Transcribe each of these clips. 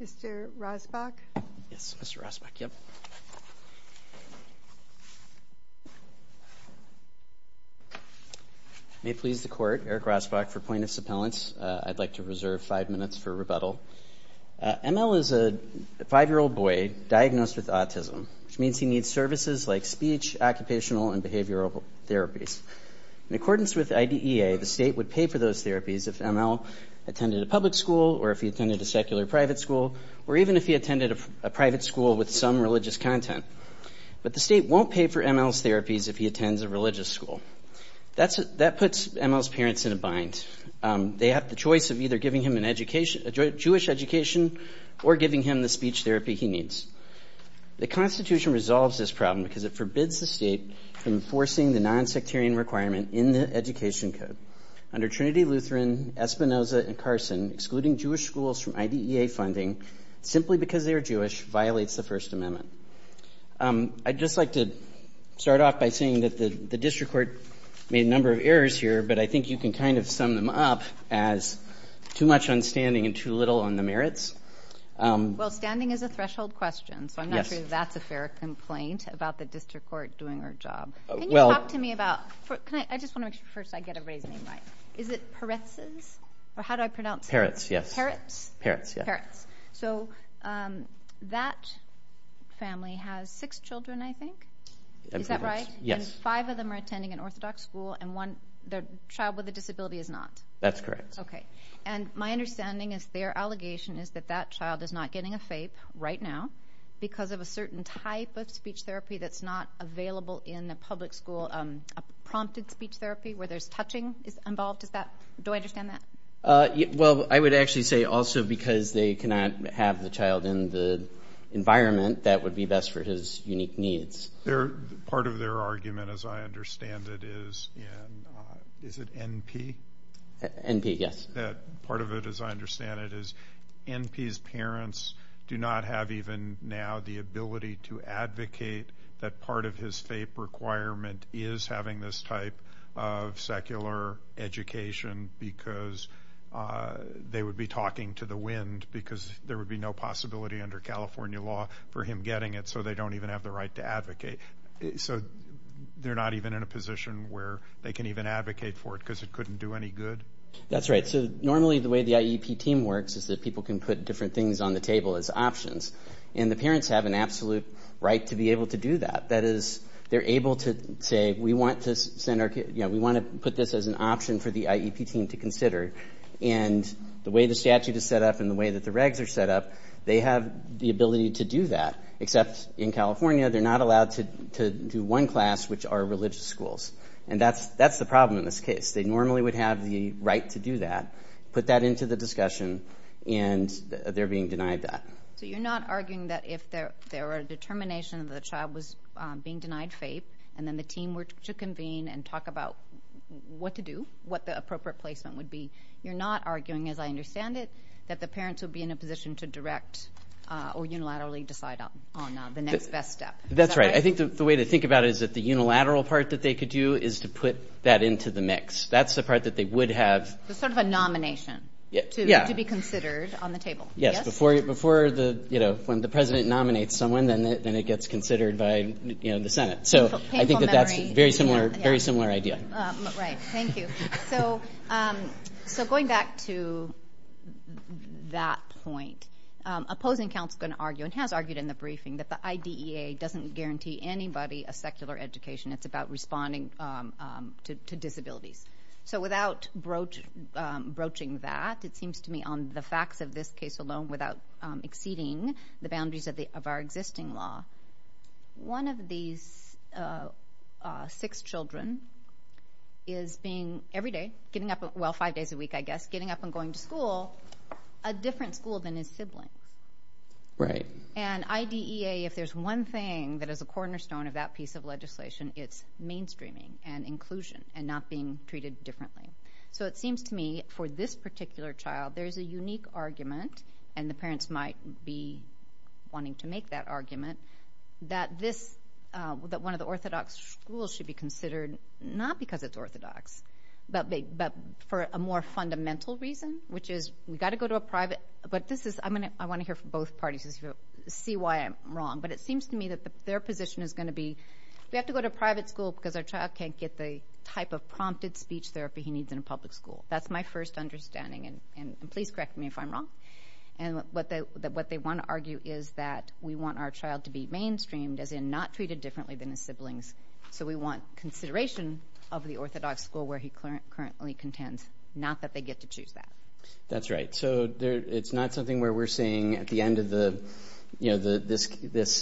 Mr. Rosbach. Yes, Mr. Rosbach. May it please the Court, Eric Rosbach for plaintiff's appellants. I'd like to reserve five minutes for rebuttal. ML is a five-year-old boy diagnosed with autism, which means he needs services like speech, occupational, and behavioral therapies. In accordance with IDEA, the private school, or even if he attended a private school with some religious content. But the state won't pay for ML's therapies if he attends a religious school. That puts ML's parents in a bind. They have the choice of either giving him a Jewish education or giving him the speech therapy he needs. The Constitution resolves this problem because it forbids the state from enforcing the non-sectarian requirement in the Education Code under Trinity, Lutheran, Espinoza, and Carson. Excluding Jewish schools from IDEA funding, simply because they are Jewish, violates the First Amendment. I'd just like to start off by saying that the District Court made a number of errors here, but I think you can kind of sum them up as too much on standing and too little on the merits. Well, standing is a threshold question, so I'm not sure that's a fair complaint about the District Court doing our job. Can you talk to me about, I just want to make sure first I get everybody's name right, is it Peretz's? Or how do I pronounce it? Peretz, yes. Peretz? Peretz, yeah. So that family has six children, I think? Is that right? Yes. And five of them are attending an Orthodox school, and one, the child with a disability, is not? That's correct. Okay, and my understanding is their allegation is that that child is not getting a FAPE right now because of a certain type of speech therapy that's not available in the public school, a prompted speech therapy where there's touching is involved? Is that, do I understand that? Well, I would actually say also because they cannot have the child in the environment, that would be best for his unique needs. Part of their argument, as I understand it, is in, is it NP? NP, yes. Part of it, as I understand it, is NP's parents do not have even now the ability to advocate that part of his FAPE requirement is having this type of secular education because they would be talking to the wind because there would be no possibility under California law for him getting it, so they don't even have the right to advocate. So they're not even in a position where they can even advocate for it because it couldn't do any good? That's right. So normally the way the IEP team works is that people can put different things on the table as options, and the parents have an absolute right to be able to do that. That is, they're able to say, we want to send our, you know, we want to put this as an option for the IEP team to consider, and the way the statute is set up and the way that the regs are set up, they have the ability to do that, except in California they're not allowed to do one class which are religious schools. And that's the problem in this case. They normally would have the right to do that, put that into the discussion, and they're being denied that. So you're not arguing that if there are determination that the child was being denied faith, and then the team were to convene and talk about what to do, what the appropriate placement would be, you're not arguing, as I understand it, that the parents would be in a position to direct or unilaterally decide on the next best step. That's right. I think the way to think about it is that the unilateral part that they could do is to put that into the mix. That's the part that they would have. It's sort of a nomination to be considered on the table. Yes, before the, you know, when the Senate, then it gets considered by the Senate. So I think that that's a very similar idea. Right. Thank you. So going back to that point, opposing counsel can argue, and has argued in the briefing, that the IDEA doesn't guarantee anybody a secular education. It's about responding to disabilities. So without broaching that, it seems to me on the facts of this case alone, without exceeding the law, one of these six children is being, every day, getting up, well, five days a week, I guess, getting up and going to school, a different school than his sibling. Right. And IDEA, if there's one thing that is a cornerstone of that piece of legislation, it's mainstreaming and inclusion and not being treated differently. So it seems to me, for this particular child, there's a unique argument, and the parents might be wanting to make that argument, that this, that one of the orthodox schools should be considered, not because it's orthodox, but for a more fundamental reason, which is, we've got to go to a private, but this is, I'm going to, I want to hear from both parties to see why I'm wrong, but it seems to me that their position is going to be, we have to go to a private school because our child can't get the type of prompted speech therapy he needs in a public school. That's my first understanding, and please correct me if I'm wrong. And what they want to argue is that we want our child to be mainstreamed, as in not treated differently than his siblings. So we want consideration of the orthodox school where he currently contends, not that they get to choose that. That's right. So it's not something where we're saying at the end of the, you know, this case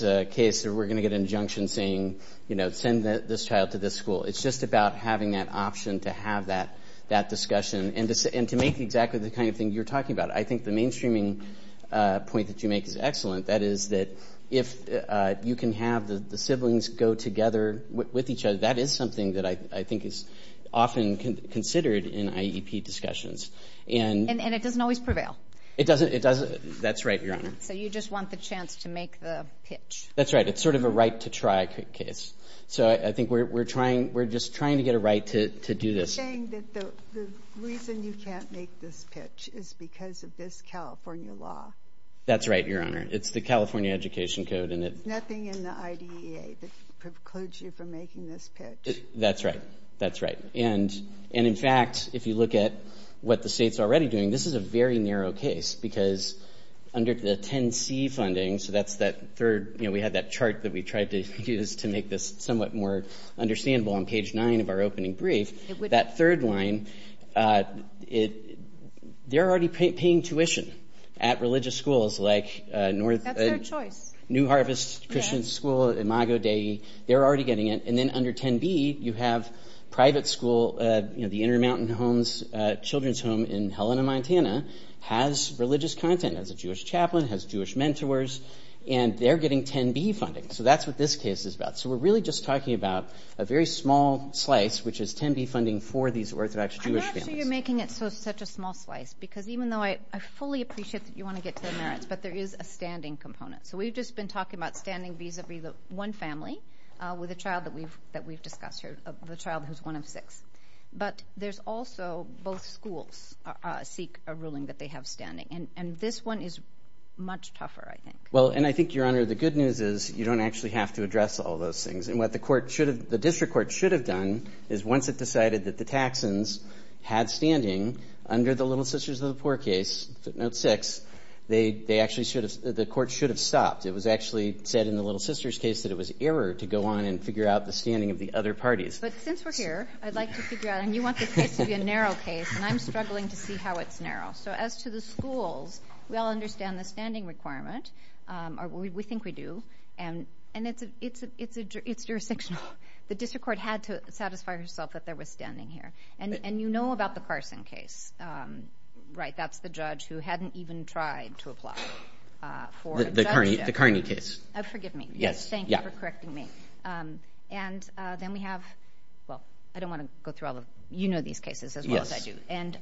that we're going to get an injunction saying, you know, send this child to this school. It's just about having that option to have that discussion, and to make exactly the kind of thing you're talking about. I think the mainstreaming point that you make is excellent. That is that if you can have the siblings go together with each other, that is something that I think is often considered in IEP discussions. And it doesn't always prevail. It doesn't, it doesn't. That's right, Your Honor. So you just want the chance to make the pitch. That's right. It's sort of a right-to-try case. So I think we're trying, we're just trying to get a right to do this. You're saying that the reason you can't make this pitch is because of this California law. That's right, Your Honor. It's the California Education Code, and it's nothing in the IDEA that precludes you from making this pitch. That's right. That's right. And, and in fact, if you look at what the state's already doing, this is a very narrow case, because under the 10C funding, so that's that third, you know, we had that chart that we tried to use to make this somewhat more understandable on page 9 of our opening brief, that third line, it, they're already paying tuition at religious schools like North, New Harvest Christian School, Imago Dei, they're already getting it. And then under 10B, you have private school, you know, the Intermountain Homes Children's Home in Helena, Montana, has religious content as a Jewish chaplain, has Jewish mentors, and they're getting 10B funding. So that's what this case is about. So we're really just talking about a very small slice, which is 10B funding for these Orthodox Jewish families. I'm not sure you're making it so, such a small slice, because even though I, I fully appreciate that you want to get to the merits, but there is a standing component. So we've just been talking about standing vis-a-vis the one family with a child that we've, that we've discussed here, the child who's one of six. But there's also both schools seek a ruling that they have standing, and, and this one is much tougher, I think. Well, and I think, Your Honor, the good news is you don't actually have to address all those things. And what the district court should have done is once it decided that the Taxans had standing under the Little Sisters of the Poor case, footnote six, they, they actually should have, the court should have stopped. It was actually said in the Little Sisters case that it was error to go on and figure out the standing of the other parties. But since we're here, I'd like to figure out, and you want this case to be a narrow case, and I'm struggling to see how it's narrow. So as to the schools, we all understand the standing requirement, or we think we do, and, and it's a, it's a, it's a, it's jurisdictional. The district court had to satisfy herself that there was standing here. And, and you know about the Carson case, right? That's the judge who hadn't even tried to apply for... The Carney, the Carney case. Oh, forgive me. Yes. Thank you for correcting me. And then we have, well, I don't want to go through all the, you know these cases as well as I do. And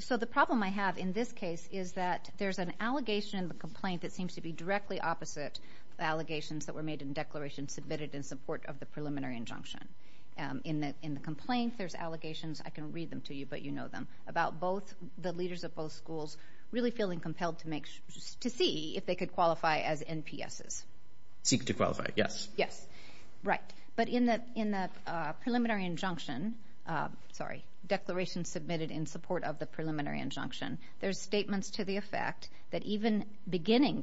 so the problem I have in this case is that there's an allegation in the complaint that seems to be directly opposite the allegations that were made in declaration submitted in support of the preliminary injunction. In the, in the complaint, there's allegations, I can read them to you but you know them, about both the leaders of both schools really feeling compelled to make, to see if they could qualify as NPSs. Seek to qualify, yes. Yes, right. But in the, in the preliminary injunction, sorry, declaration submitted in support of the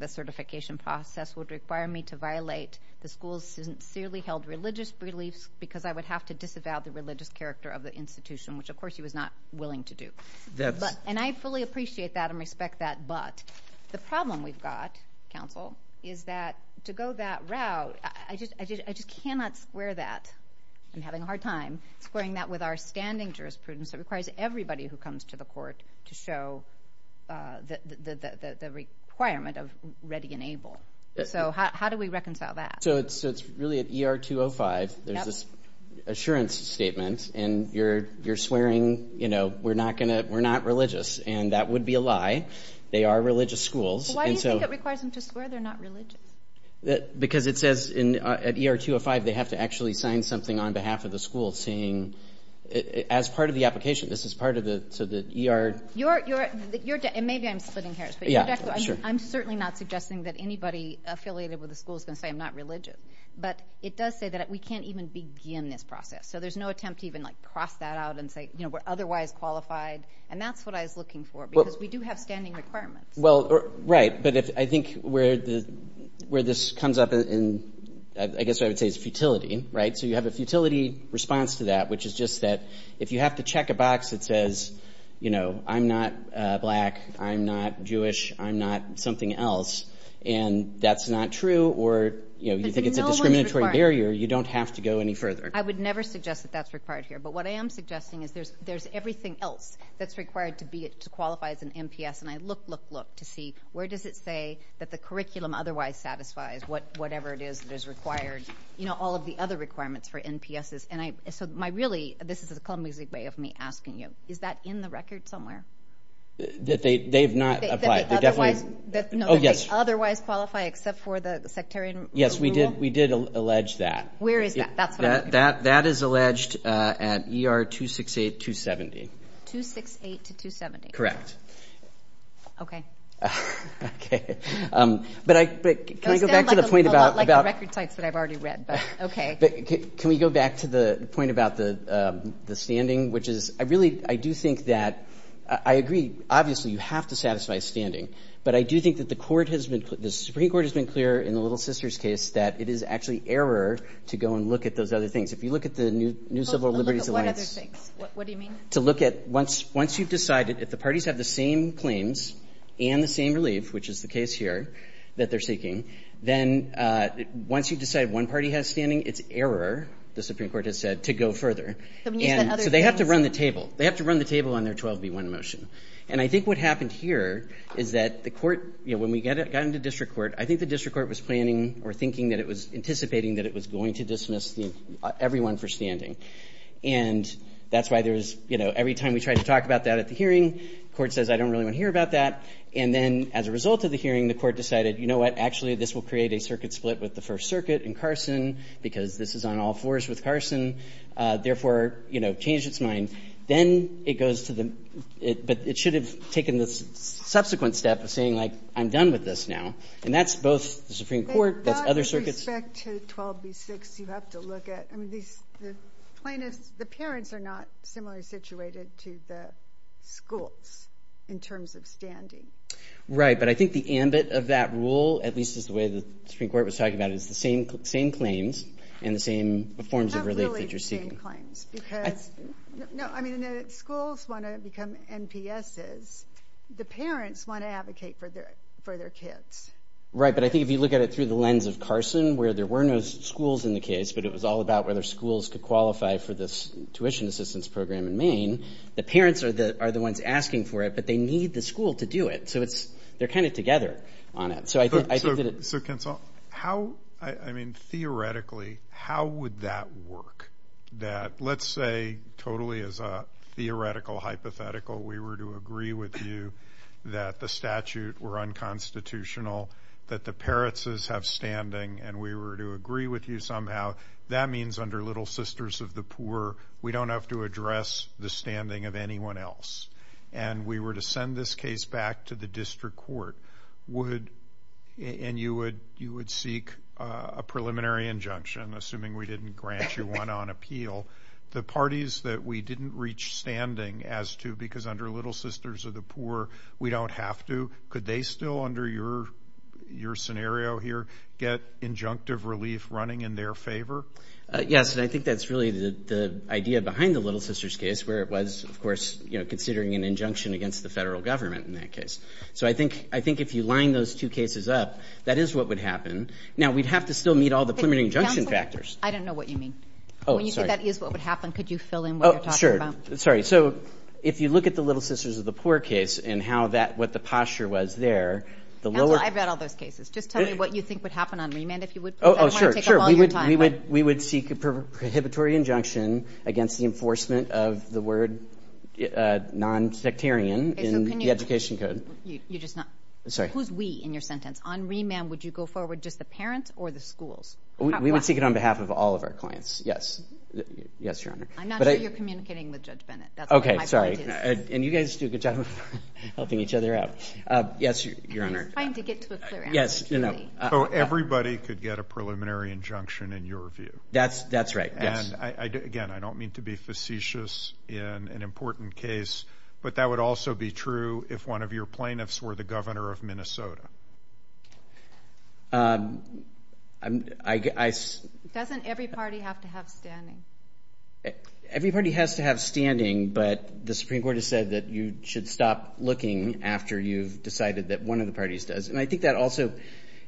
certification process would require me to violate the school's sincerely held religious beliefs because I would have to disavow the religious character of the institution, which of course he was not willing to do. That's... And I fully appreciate that and respect that, but the problem we've got, counsel, is that to go that route, I just, I just, I just cannot square that. I'm having a hard time squaring that with our standing jurisprudence that requires everybody who comes to the court to show the requirement of ready and able. So how do we reconcile that? So it's, so it's really at ER 205, there's this assurance statement and you're, you're swearing, you know, we're not gonna, we're not religious and that would be a lie. They are religious schools and so... Why do you think it requires them to swear they're not religious? Because it says in, at ER 205, they have to actually sign something on behalf of the school saying, as part of the application, this is part of the, so the ER... You're, you're, you're, and maybe I'm splitting hairs, but I'm certainly not suggesting that anybody affiliated with the school is gonna say I'm not religious, but it does say that we can't even begin this process. So there's no attempt to even like cross that out and say, you know, we're otherwise qualified and that's what I was looking for because we do have standing requirements. Well, right, but if, I think where the, where this comes up in, I guess I would say it's futility, right? So you have a futility response to that, which is just that if you have to check a box that says, you know, I'm not black, I'm not Jewish, I'm not something else and that's not true or, you know, you think it's a discriminatory barrier, you don't have to go any further. I would never suggest that that's required here, but what I am suggesting is there's, there's everything else that's required to be, to qualify as an MPS and I look, look, look to see where does it say that the curriculum otherwise satisfies what, whatever it is required, you know, all of the other requirements for NPSs and I, so my, really, this is a clumsy way of me asking you, is that in the record somewhere? That they, they've not applied, they definitely, oh yes, otherwise qualify except for the sectarian rule? Yes, we did, we did allege that. Where is that? That, that, that is alleged at ER 268-270. 268-270? Correct. Okay. Okay, but I, but can I go back to the point about, about, can we go back to the point about the, the standing, which is, I really, I do think that, I agree, obviously, you have to satisfy standing, but I do think that the court has been, the Supreme Court has been clear in the Little Sisters case that it is actually error to go and look at those other things. If you look at the new, new Civil Liberties Alliance, to look at, once, once you've decided, if the parties have the same claims and the same relief, which is the case here, that they're seeking, then once you decide one party has standing, it's error, the Supreme Court has said, to go further. And so they have to run the table. They have to run the table on their 12B1 motion. And I think what happened here is that the court, you know, when we get it, got into district court, I think the district court was planning or thinking that it was, anticipating that it was going to dismiss the, everyone for standing. And that's why there's, you know, every time we try to talk about that at the hearing, court says, I don't really want to hear about that. And then, as a result of the hearing, the court decided, you know what, actually this will create a circuit split with the First Circuit and Carson, because this is on all fours with Carson. Therefore, you know, changed its mind. Then it goes to the, it, but it should have taken the subsequent step of saying, like, I'm done with this now. And that's both the Supreme Court, that's other circuits. But back to 12B6, you have to look at, I mean, these, the plaintiffs, the parents are not similarly situated to the schools, in terms of standing. Right, but I think the ambit of that rule, at least is the way the Supreme Court was talking about it, is the same, same claims and the same forms of relief that you're seeking. Not really the same claims, because, no, I mean, the schools want to become NPSs, the parents want to advocate for their, for their kids. Right, but I think if you look at it through the lens of Carson, where there were no schools in the case, but it was all about whether schools could qualify for this tuition assistance program in Maine, the parents are the, are the ones asking for it, but they need the school to do it. So it's, they're kind of together on it. So I think, I think that it. So, so Ken Sal, how, I mean, theoretically, how would that work? That, let's say, totally as a theoretical hypothetical, we were to agree with you that the statute were unconstitutional, that the parentses have standing, and we were to agree with you somehow, that means under Little Sisters of the Poor, we don't have to address the standing of anyone else. And we were to send this case back to the district court, would, and you would, you would seek a preliminary injunction, assuming we didn't grant you one on appeal, the parties that we didn't reach standing as to, because under Little Sisters of the Poor, we don't have to, could they still, under your, your perspective, have relief running in their favor? Yes, and I think that's really the, the idea behind the Little Sisters case, where it was, of course, you know, considering an injunction against the federal government in that case. So I think, I think if you line those two cases up, that is what would happen. Now, we'd have to still meet all the preliminary injunction factors. I don't know what you mean. Oh, sorry. When you say that is what would happen, could you fill in what you're talking about? Oh, sure. Sorry. So if you look at the Little Sisters of the Poor case, and how that, what the posture was there, the lower. Counsel, I've read all those cases. Just tell me what you think would happen on remand, if you would please. Oh, sure, sure. I don't want to take up all your time. We would, we would, we would seek a prohibitory injunction against the enforcement of the word nonsectarian in the education code. You, you're just not. I'm sorry. Who's we in your sentence? On remand, would you go forward, just the parents or the schools? We would seek it on behalf of all of our clients, yes, yes, Your Honor. I'm not sure you're communicating with Judge Bennett. That's what my point is. Okay. Sorry. And you guys do a good job of helping each other out. Yes, Your Honor. I'm just trying to get to a clear answer, Julie. Yes. No. So everybody could get a preliminary injunction, in your view? That's, that's right. Yes. And I, again, I don't mean to be facetious in an important case, but that would also be true if one of your plaintiffs were the governor of Minnesota. I, I, I. Doesn't every party have to have standing? Every party has to have standing, but the Supreme Court has said that you should stop looking after you've decided that one of the parties does. And I think that also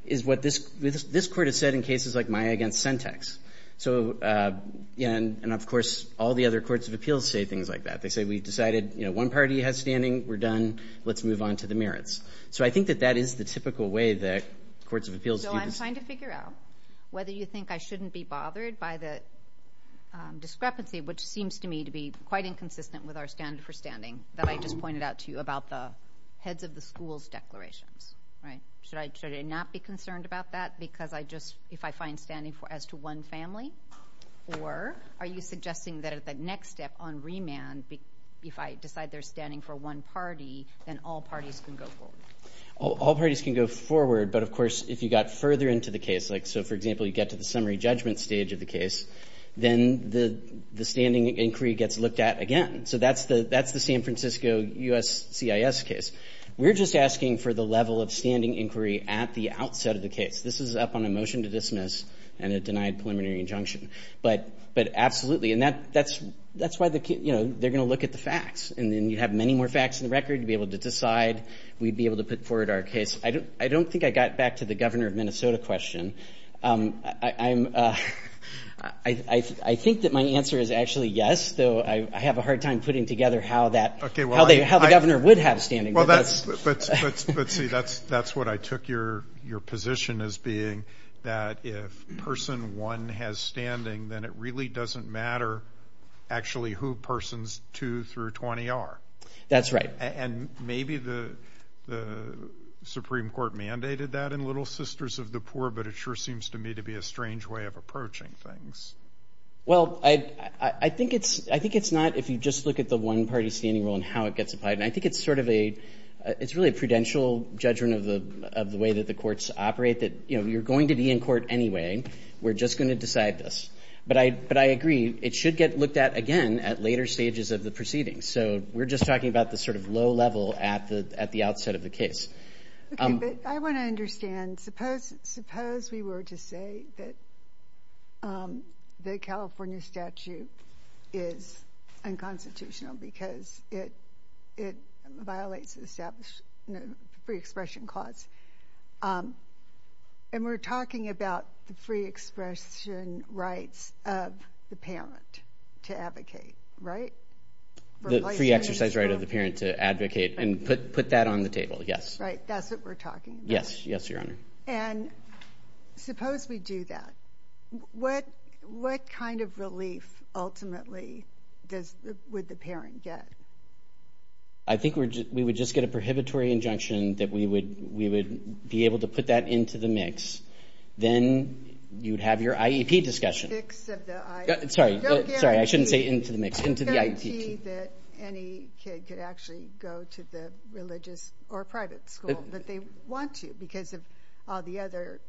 is what this, this court has said in cases like my against Sentex. So yeah, and, and of course, all the other courts of appeals say things like that. They say, we've decided, you know, one party has standing, we're done, let's move on to the merits. So I think that that is the typical way that courts of appeals do this. So I'm trying to figure out whether you think I shouldn't be bothered by the discrepancy, which seems to me to be quite inconsistent with our standard for standing that I just pointed out to you about the heads of the schools declarations, right? Should I, should I not be concerned about that? Because I just, if I find standing for, as to one family, or are you suggesting that at the next step on remand, if I decide they're standing for one party, then all parties can go forward. All parties can go forward. But of course, if you got further into the case, like, so for example, you get to the summary judgment stage of the case, then the, the standing inquiry gets looked at again. So that's the, that's the San Francisco U.S. CIS case. We're just asking for the level of standing inquiry at the outset of the case. This is up on a motion to dismiss and a denied preliminary injunction. But, but absolutely, and that, that's, that's why the, you know, they're going to look at the facts. And then you have many more facts in the record, you'd be able to decide, we'd be able to put forward our case. I don't, I don't think I got back to the governor of Minnesota question. I, I'm, I, I think that my answer is actually yes, though I have a hard time putting together how that, how they, how the governor would have standing. Well, that's, but, but, but see, that's, that's what I took your, your position as being that if person one has standing, then it really doesn't matter actually who persons two through 20 are. That's right. And maybe the, the Supreme Court mandated that in Little Sisters of the Poor, but it sure seems to me to be a strange way of approaching things. Well, I, I, I think it's, I think it's not if you just look at the one-party standing rule and how it gets applied. And I think it's sort of a, it's really a prudential judgment of the, of the way that the courts operate that, you know, you're going to be in court anyway. We're just going to decide this. But I, but I agree, it should get looked at again at later stages of the proceedings. So we're just talking about the sort of low level at the, at the outset of the case. Okay, but I want to understand, suppose, suppose we were to say that the California statute is unconstitutional because it, it violates the established free expression clause. And we're talking about the free expression rights of the parent to advocate, right? The free exercise right of the parent to advocate and put, put that on the table, yes. Right, that's what we're talking about. Yes, yes, Your Honor. And suppose we do that, what, what kind of relief ultimately does, would the parent get? I think we're, we would just get a prohibitory injunction that we would, we would be able to put that into the mix. Then you'd have your IEP discussion. Fix of the IEP. Sorry. Sorry, I shouldn't say into the mix. Into the IEP. It's not key that any kid could actually go to the religious or private school, but they want to because of all the other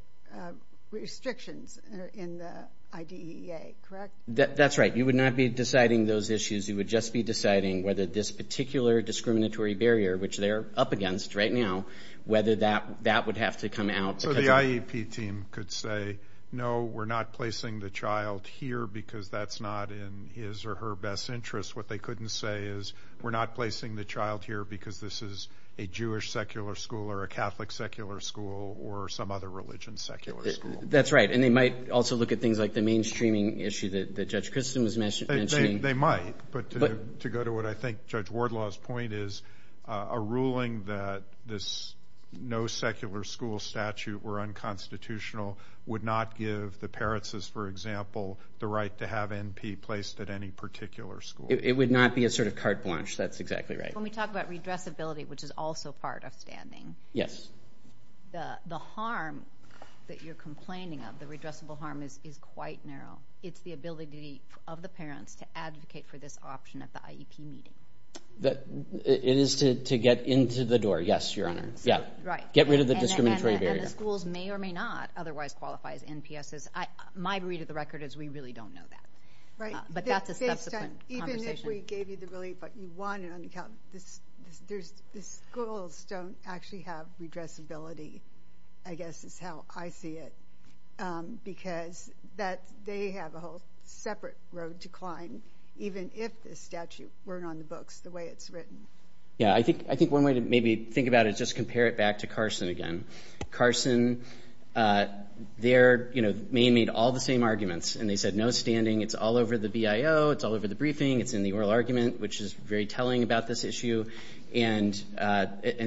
restrictions in the IDEA, correct? That's right. You would not be deciding those issues. You would just be deciding whether this particular discriminatory barrier, which they're up against right now, whether that, that would have to come out. So the IEP team could say, no, we're not placing the child here because that's not in his or her best interest. What they couldn't say is, we're not placing the child here because this is a Jewish secular school or a Catholic secular school or some other religion secular school. That's right. And they might also look at things like the mainstreaming issue that, that Judge Christen was mentioning. They might. But to, to go to what I think Judge Wardlaw's point is, a ruling that this no secular school statute were unconstitutional would not give the parents, as for example, the right to have NP placed at any particular school. It would not be a sort of carte blanche. That's exactly right. When we talk about redressability, which is also part of standing, the harm that you're complaining of, the redressable harm is quite narrow. It's the ability of the parents to advocate for this option at the IEP meeting. It is to get into the door. Yes, Your Honor. Yeah. Right. Get rid of the discriminatory barrier. And the schools may or may not otherwise qualify as NPSs. My read of the record is we really don't know that. Right. But that's a subsequent conversation. Based on, even if we gave you the relief, but you want it on account, there's, the schools don't actually have redressability, I guess is how I see it. Because that, they have a whole separate road to climb, even if the statute weren't on the books the way it's written. Yeah. I think, I think one way to maybe think about it, just compare it back to Carson again. Carson, they're, you know, Maine made all the same arguments and they said no standing. It's all over the BIO. It's all over the briefing. It's in the oral argument, which is very telling about this issue. And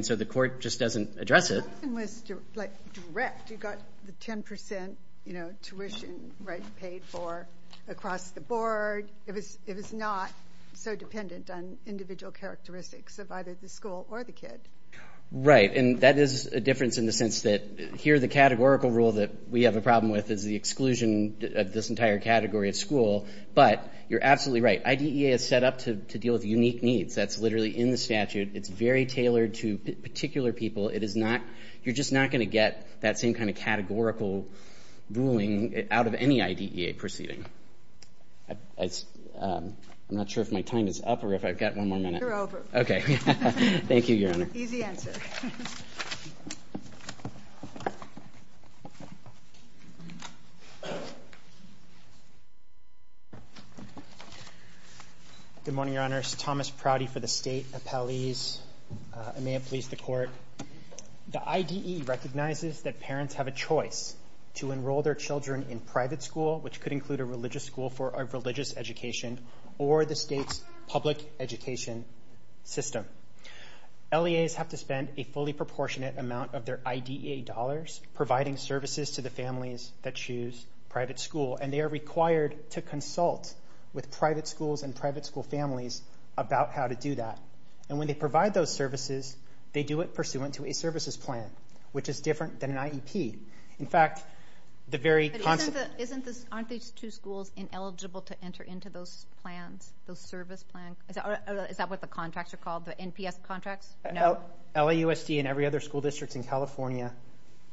so the court just doesn't address it. Carson was like direct. You got the 10%, you know, tuition, right, paid for across the board. It was, it was not so dependent on individual characteristics of either the school or the kid. Right. Right. And that is a difference in the sense that here the categorical rule that we have a problem with is the exclusion of this entire category of school. But you're absolutely right. IDEA is set up to deal with unique needs. That's literally in the statute. It's very tailored to particular people. It is not, you're just not going to get that same kind of categorical ruling out of any IDEA proceeding. I'm not sure if my time is up or if I've got one more minute. You're over. Okay. Thank you, Your Honor. Thank you, Your Honor. Easy answer. Good morning, Your Honors. Thomas Prouty for the State Appellees. I may have pleased the court. The IDE recognizes that parents have a choice to enroll their children in private school, which could include a religious school for a religious education or the state's public education system. LEAs have to spend a fully proportionate amount of their IDEA dollars providing services to the families that choose private school. And they are required to consult with private schools and private school families about how to do that. And when they provide those services, they do it pursuant to a services plan, which is different than an IEP. In fact, the very concept... But isn't this, aren't these two schools ineligible to enter into those plans, those service plans? Is that what the contracts are called, the NPS contracts? No. LAUSD and every other school district in California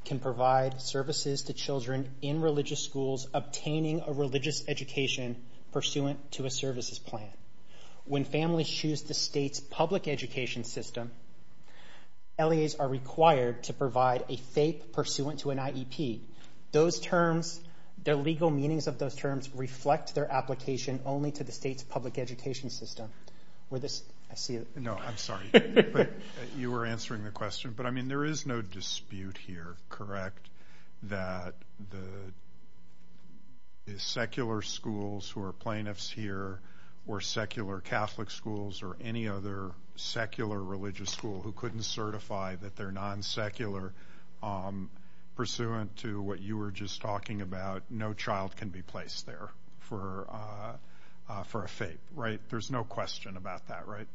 can provide services to children in religious schools obtaining a religious education pursuant to a services plan. When families choose the state's public education system, LEAs are required to provide a FAPE pursuant to an IEP. Those terms, the legal meanings of those terms reflect their application only to the state's public education system. Were this... I see it. No, I'm sorry. But you were answering the question. But I mean, there is no dispute here, correct, that the secular schools who are plaintiffs here or secular Catholic schools or any other secular religious school who couldn't certify that they're non-secular pursuant to what you were just talking about, no child can be placed there for a FAPE, right? There's no question about that, right?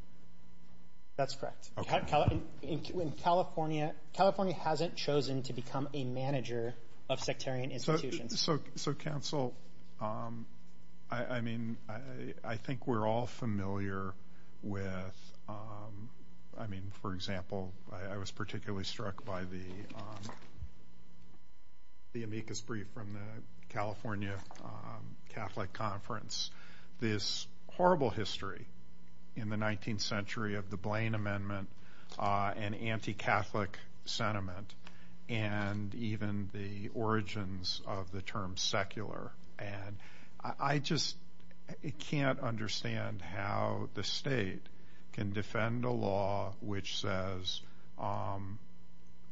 That's correct. Okay. In California, California hasn't chosen to become a manager of sectarian institutions. So counsel, I mean, I think we're all familiar with, I mean, for example, I was particularly struck by the amicus brief from the California Catholic Conference, this horrible history in the 19th century of the Blaine Amendment and anti-Catholic sentiment and even the origins of the term secular. And I just can't understand how the state can defend a law which says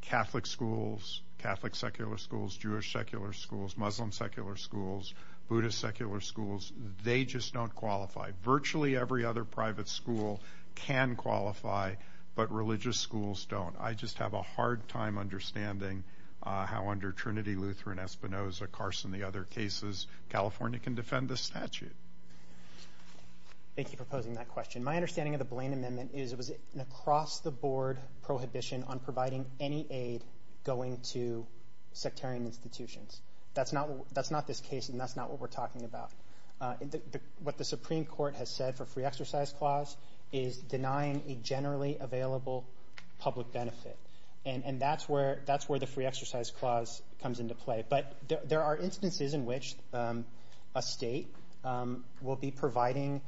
Catholic schools, Catholic secular schools, Jewish secular schools, Muslim secular schools, Buddhist secular schools, they just don't qualify. Virtually every other private school can qualify, but religious schools don't. I just have a hard time understanding how under Trinity, Lutheran, Espinoza, Carson, the other cases, California can defend the statute. Thank you for posing that question. My understanding of the Blaine Amendment is it was an across-the-board prohibition on providing any aid going to sectarian institutions. That's not this case and that's not what we're talking about. What the Supreme Court has said for free exercise clause is denying a generally available public benefit. And that's where the free exercise clause comes into play. But there are instances in which a state will be providing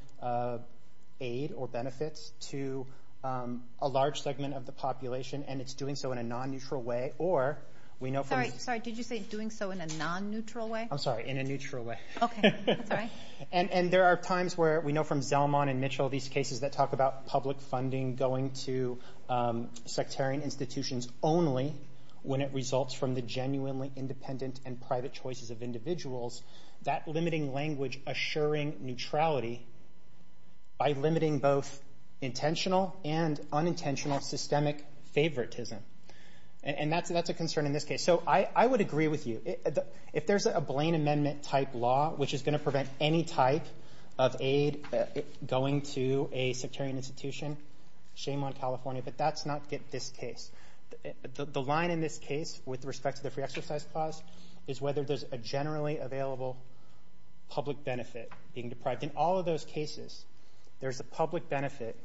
aid or benefits to a large segment of the population and it's doing so in a non-neutral way or we know from... Sorry, did you say doing so in a non-neutral way? I'm sorry, in a neutral way. Okay. That's all right. And there are times where we know from Zelmon and Mitchell, these cases that talk about public funding going to sectarian institutions only when it results from the genuinely independent and private choices of individuals, that limiting language assuring neutrality by limiting both intentional and unintentional systemic favoritism. And that's a concern in this case. So I would agree with you. If there's a Blaine Amendment type law which is going to prevent any type of aid going to a sectarian institution, shame on California, but that's not this case. The line in this case with respect to the free exercise clause is whether there's a generally available public benefit being deprived. In all of those cases, there's a public benefit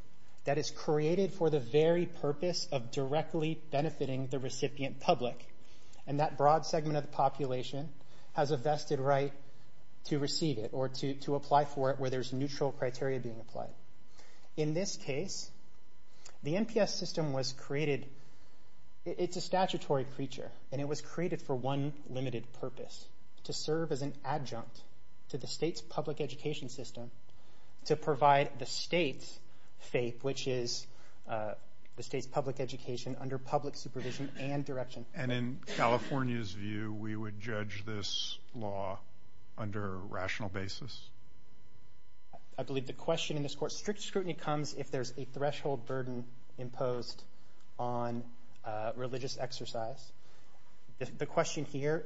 that is created for the very purpose of directly benefiting the recipient public. And that broad segment of the population has a vested right to receive it or to apply for it where there's neutral criteria being applied. In this case, the NPS system was created, it's a statutory creature, and it was created for one limited purpose, to serve as an adjunct to the state's public education system to provide the state's faith, which is the state's public education under public supervision and direction. And in California's view, we would judge this law under a rational basis? I believe the question in this court, strict scrutiny comes if there's a threshold burden imposed on religious exercise. The question here,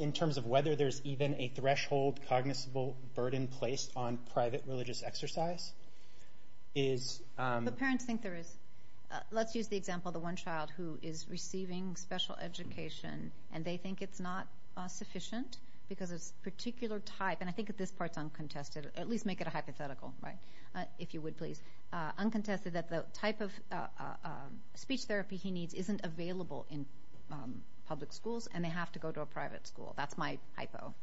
in terms of whether there's even a threshold cognizable burden placed on private religious exercise, is... The parents think there is. Let's use the example of the one child who is receiving special education, and they think it's not sufficient because of a particular type, and I think this part's uncontested, at least make it a hypothetical, if you would please, uncontested that the type of speech therapy he needs isn't available in public schools, and they have to go to a private school. That's my hypo.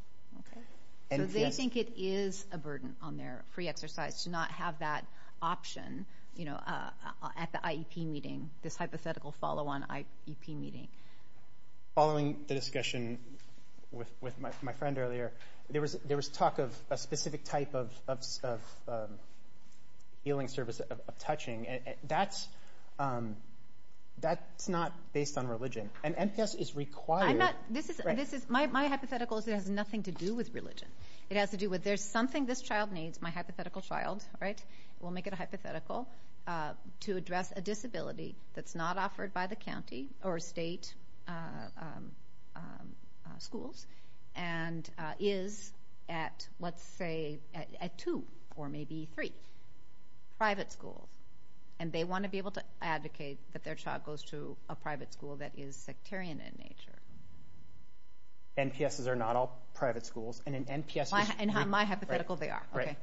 So they think it is a burden on their free exercise to not have that option at the IEP meeting, this hypothetical follow-on IEP meeting. Following the discussion with my friend earlier, there was talk of a specific type of healing service, of touching, and that's not based on religion, and MTS is required... My hypothetical is it has nothing to do with religion, it has to do with there's something this child needs, my hypothetical child, right, we'll make it a hypothetical, to address a private school, and is at, let's say, at two, or maybe three, private school, and they want to be able to advocate that their child goes to a private school that is sectarian in nature. NPSs are not all private schools, and an NPS... My hypothetical, they are, okay.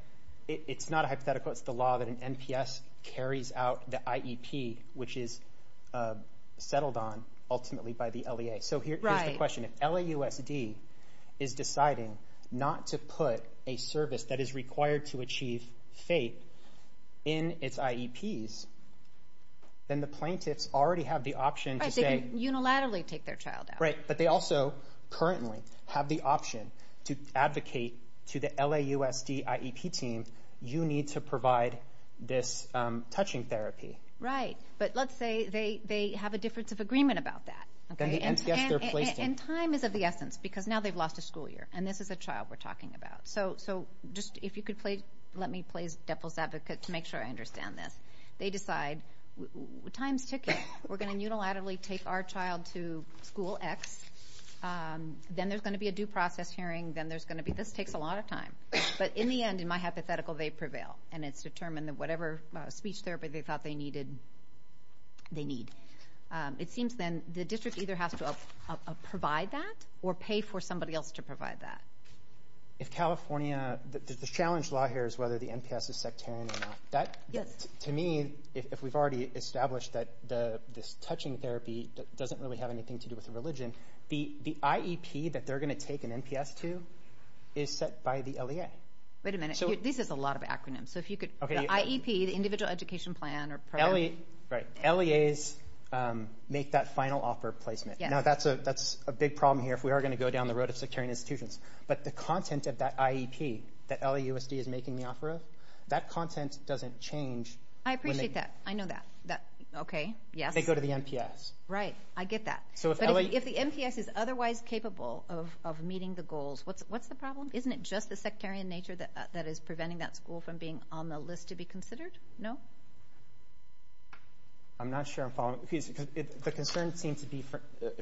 It's not a hypothetical, it's the law that an NPS carries out the IEP, which is settled on ultimately by the LEA. So here's the question, if LAUSD is deciding not to put a service that is required to achieve faith in its IEPs, then the plaintiffs already have the option to say... Right, they can unilaterally take their child out. Right, but they also currently have the option to advocate to the LAUSD IEP team, you need to provide this touching therapy. Right, but let's say they have a difference of agreement about that, and time is of the essence, because now they've lost a school year, and this is a child we're talking about. So, just if you could let me play Deppel's advocate to make sure I understand this. They decide, time's ticking, we're going to unilaterally take our child to school X, then there's going to be a due process hearing, then there's going to be... This takes a lot of time, but in the end, in my hypothetical, they prevail, and it's what they needed, they need. It seems then, the district either has to provide that, or pay for somebody else to provide that. If California, the challenge law here is whether the NPS is sectarian or not. To me, if we've already established that this touching therapy doesn't really have anything to do with religion, the IEP that they're going to take an NPS to, is set by the LEA. Wait a minute, this is a lot of acronyms, so if you could, the IEP, the Individual Education Plan... Right, LEAs make that final offer placement. That's a big problem here if we are going to go down the road of sectarian institutions, but the content of that IEP that LAUSD is making the offer of, that content doesn't change when they... I appreciate that, I know that. Okay, yes. They go to the NPS. Right, I get that, but if the NPS is otherwise capable of meeting the goals, what's the problem? Isn't it just the sectarian nature that is preventing that school from being on the list to be considered? No? I'm not sure I'm following, because the concern seems to be,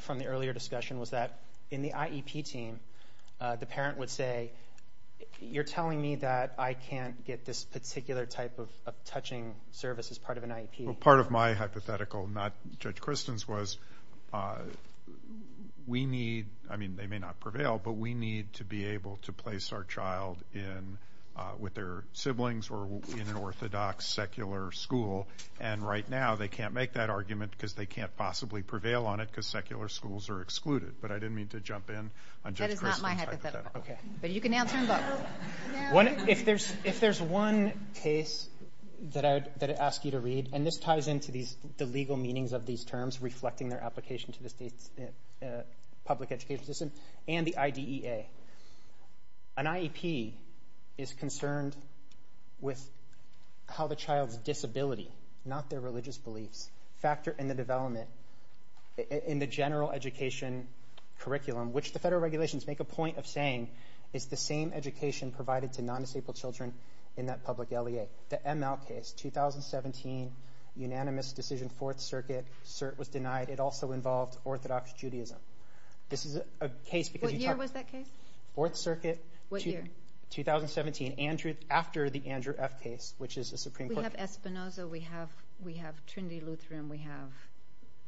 from the earlier discussion, was that in the IEP team, the parent would say, you're telling me that I can't get this particular type of touching service as part of an IEP. Part of my hypothetical, not Judge Kristen's, was we need, I mean, they may not prevail, but we need to be able to place our child in, with their siblings, or in an orthodox secular school, and right now they can't make that argument because they can't possibly prevail on it because secular schools are excluded, but I didn't mean to jump in on Judge Kristen's hypothetical. That is not my hypothetical. Okay. But you can now turn it up. If there's one case that I'd ask you to read, and this ties into the legal meanings of these IDEA, an IEP is concerned with how the child's disability, not their religious beliefs, factor in the development, in the general education curriculum, which the federal regulations make a point of saying is the same education provided to non-disabled children in that public LEA. The ML case, 2017, unanimous decision, Fourth Circuit, cert was denied. It also involved orthodox Judaism. This is a case because you talked- What year was that case? Fourth Circuit. What year? 2017. Andrew, after the Andrew F. case, which is a Supreme Court- We have Espinoza, we have Trinity Lutheran, we have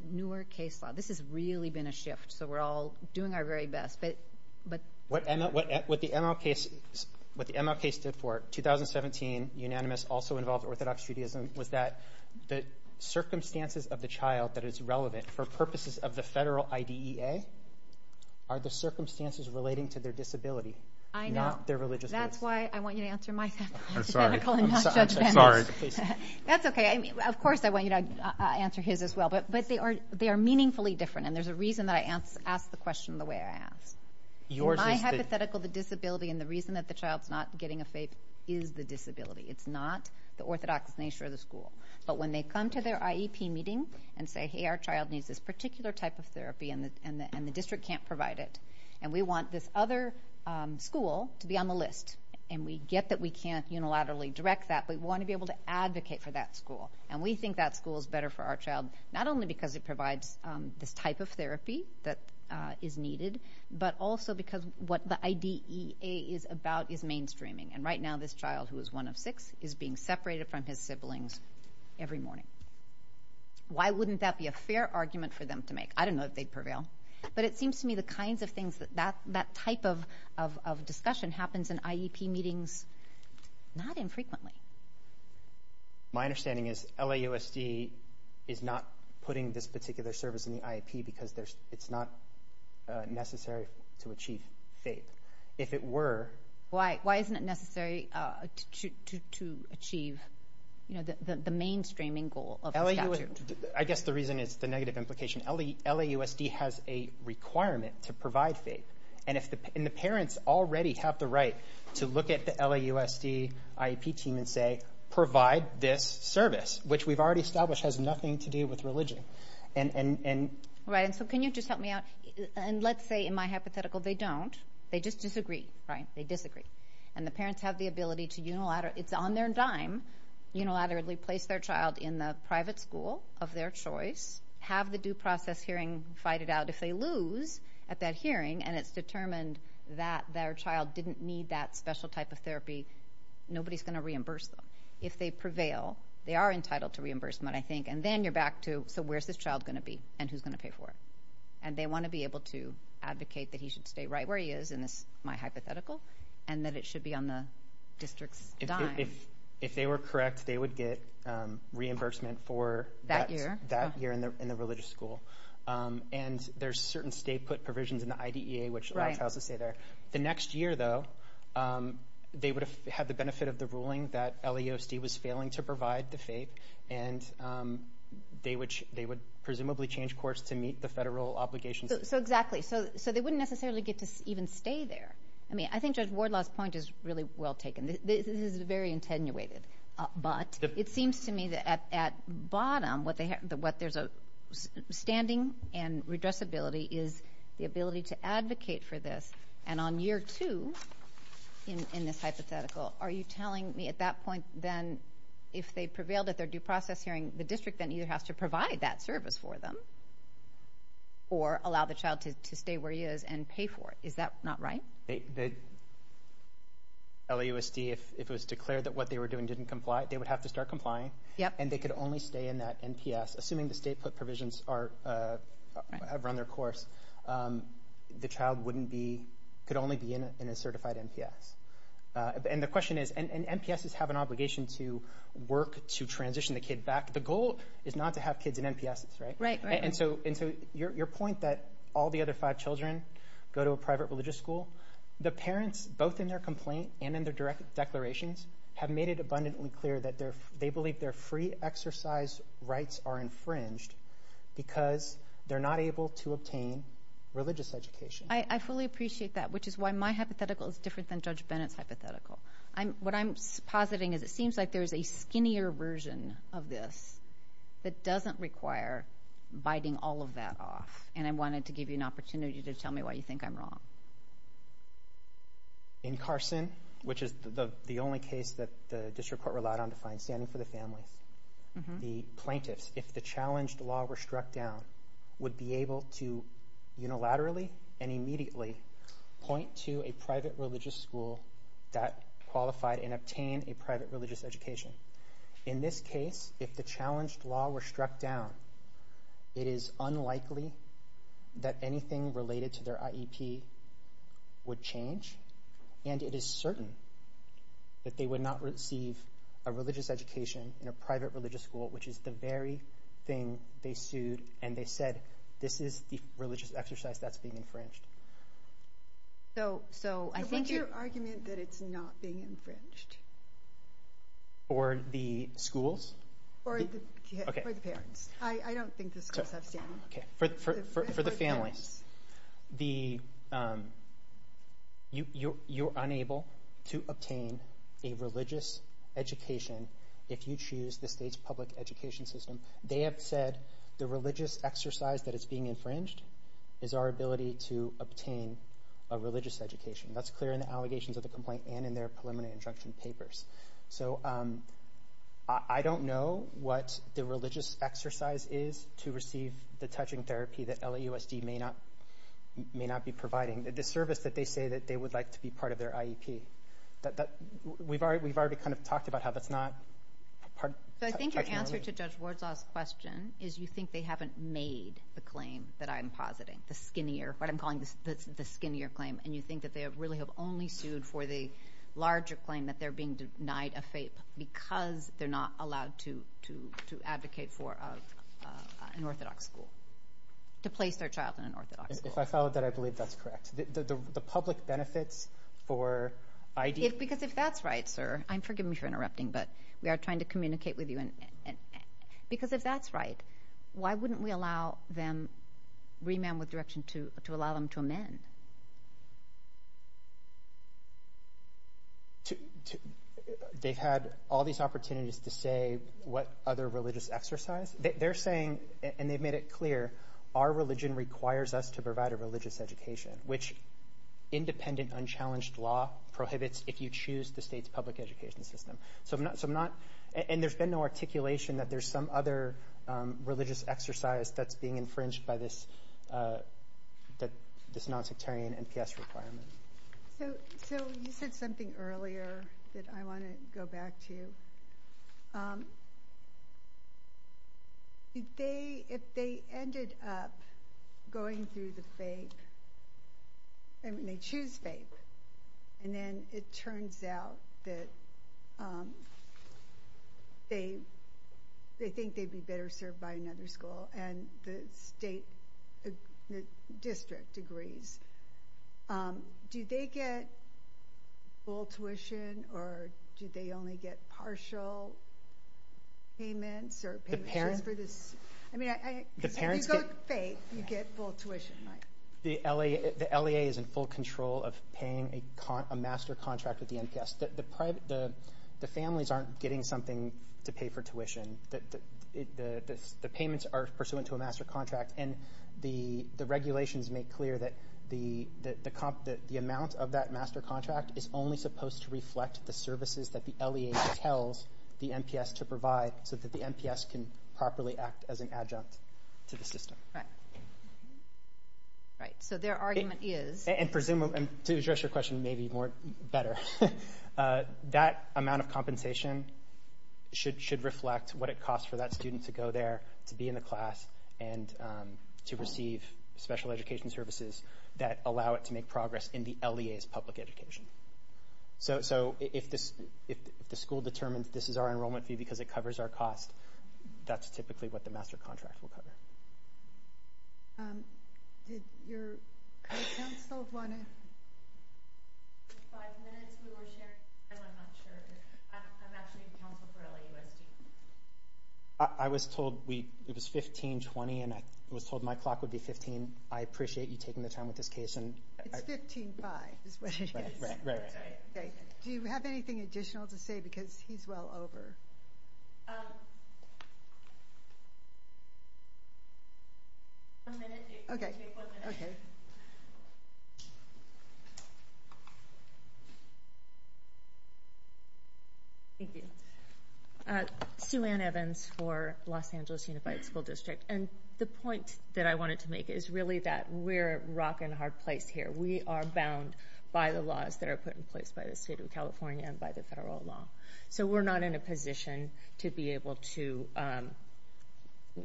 newer case law. This has really been a shift, so we're all doing our very best, but- What the ML case, what the ML case stood for, 2017, unanimous, also involved orthodox Judaism, was that the circumstances of the child that is relevant for purposes of the federal IDEA are the circumstances relating to their disability, not their religious beliefs. That's why I want you to answer my hypothetical and not Judge Bando's. That's okay. Of course I want you to answer his as well, but they are meaningfully different, and there's a reason that I ask the question the way I ask. My hypothetical, the disability, and the reason that the child's not getting a faith is the disability. It's not the orthodox nature of the school. But when they come to their IEP meeting and say, hey, our child needs this particular type of therapy and the district can't provide it, and we want this other school to be on the list, and we get that we can't unilaterally direct that, but we want to be able to advocate for that school. And we think that school is better for our child, not only because it provides this type of therapy that is needed, but also because what the IDEA is about is mainstreaming. And right now, this child, who is one of six, is being separated from his siblings every morning. Why wouldn't that be a fair argument for them to make? I don't know if they'd prevail. But it seems to me the kinds of things that that type of discussion happens in IEP meetings not infrequently. My understanding is LAUSD is not putting this particular service in the IEP because it's not necessary to achieve faith. If it were... Why isn't it necessary to achieve the mainstreaming goal of the statute? I guess the reason is the negative implication. LAUSD has a requirement to provide faith, and the parents already have the right to look at the LAUSD IEP team and say, provide this service, which we've already established has nothing to do with religion. Right, and so can you just help me out? And let's say in my hypothetical, they don't. They just disagree, right? They disagree. And the parents have the ability to unilaterally... It's on their dime, unilaterally place their child in the private school of their choice, have the due process hearing fight it out. If they lose at that hearing, and it's determined that their child didn't need that special type of therapy, nobody's going to reimburse them. If they prevail, they are entitled to reimbursement, I think. And then you're back to, so where's this child going to be, and who's going to pay for it? And they want to be able to advocate that he should stay right where he is, in my hypothetical, and that it should be on the district's dime. If they were correct, they would get reimbursement for that year in the religious school. And there's certain state put provisions in the IDEA, which allows the child to stay there. The next year, though, they would have had the benefit of the ruling that LAUSD was failing to provide the FAPE, and they would presumably change course to meet the federal obligations. So exactly. So they wouldn't necessarily get to even stay there. I mean, I think Judge Wardlaw's point is really well taken. This is very attenuated, but it seems to me that at bottom, what there's a standing and redressability is the ability to advocate for this, and on year two, in this hypothetical, are you telling me at that point, then, if they prevailed at their due process hearing, the district then either has to provide that service for them, or allow the child to stay where he is and pay for it. Is that not right? LAUSD, if it was declared that what they were doing didn't comply, they would have to start complying, and they could only stay in that NPS, assuming the state put provisions have run their course, the child wouldn't be, could only be in a certified NPS. And the question is, and NPSs have an obligation to work to transition the kid back. The goal is not to have kids in NPSs, right? Right, right. And so your point that all the other five children go to a private religious school, the parents, both in their complaint and in their direct declarations, have made it abundantly clear that they believe their free exercise rights are infringed because they're not able to obtain religious education. I fully appreciate that, which is why my hypothetical is different than Judge Bennett's hypothetical. What I'm positing is it seems like there's a skinnier version of this that doesn't require biting all of that off. And I wanted to give you an opportunity to tell me why you think I'm wrong. In Carson, which is the only case that the district court relied on to find standing for the family, the plaintiffs, if the challenged law were struck down, would be able to unilaterally and immediately point to a private religious school that qualified and obtained a private religious education. In this case, if the challenged law were struck down, it is unlikely that anything related to their IEP would change, and it is certain that they would not receive a religious education in a private religious school, which is the very thing they sued and they said, this is the religious exercise that's being infringed. So what's your argument that it's not being infringed? For the schools? For the parents. I don't think the schools have standing. For the families. You're unable to obtain a religious education if you choose the state's public education system. They have said the religious exercise that is being infringed is our ability to obtain a religious education. That's clear in the allegations of the complaint and in their preliminary instruction papers. So I don't know what the religious exercise is to receive the touching therapy that LAUSD may not be providing, the service that they say that they would like to be part of their IEP. We've already kind of talked about how that's not part of the touching relief. I think your answer to Judge Wardslaw's question is you think they haven't made the claim that I'm positing, the skinnier, what I'm calling the skinnier claim, and you think that they really have only sued for the larger claim that they're being denied a FAPE because they're not allowed to advocate for an orthodox school, to place their child in an orthodox school. If I followed that, I believe that's correct. The public benefits for IEP? Because if that's right, sir, and forgive me for interrupting, but we are trying to hear your point of view, because if that's right, why wouldn't we allow them, remand with direction to allow them to amend? They've had all these opportunities to say what other religious exercise? They're saying, and they've made it clear, our religion requires us to provide a religious education, which independent, unchallenged law prohibits if you choose the state's public education system. And there's been no articulation that there's some other religious exercise that's being infringed by this non-sectarian NPS requirement. So you said something earlier that I want to go back to. If they ended up going through the FAPE, and they choose FAPE, and then it turns out that they think they'd be better served by another school, and the state district agrees, do they get full tuition, or do they only get partial payments? If you go through FAPE, you get full tuition, right? The LEA is in full control of paying a master contract with the NPS. The families aren't getting something to pay for tuition. The payments are pursuant to a master contract, and the regulations make clear that the amount of that master contract is only supposed to reflect the services that the LEA tells the NPS to provide so that the NPS can properly act as an adjunct to the system. Right, so their argument is... And to address your question maybe better, that amount of compensation should reflect what it costs for that student to go there, to be in the class, and to receive special education services that allow it to make progress in the LEA's public education. So if the school determines this is our enrollment fee because it covers our cost, that's typically what the master contract will cover. Did your counsel want to... I was told it was 1520, and I was told my clock would be 15. I appreciate you taking the time with this case. It's 15-5 is what it is. Right, right. Do you have anything additional to say because he's well over? Um... One minute. Okay. Okay. Thank you. Sue Ann Evans for Los Angeles Unified School District. And the point that I wanted to make is really that we're rockin' hard place here. We are bound by the laws that are put in place by the state of California and by the federal law. So we're not in a position to be able to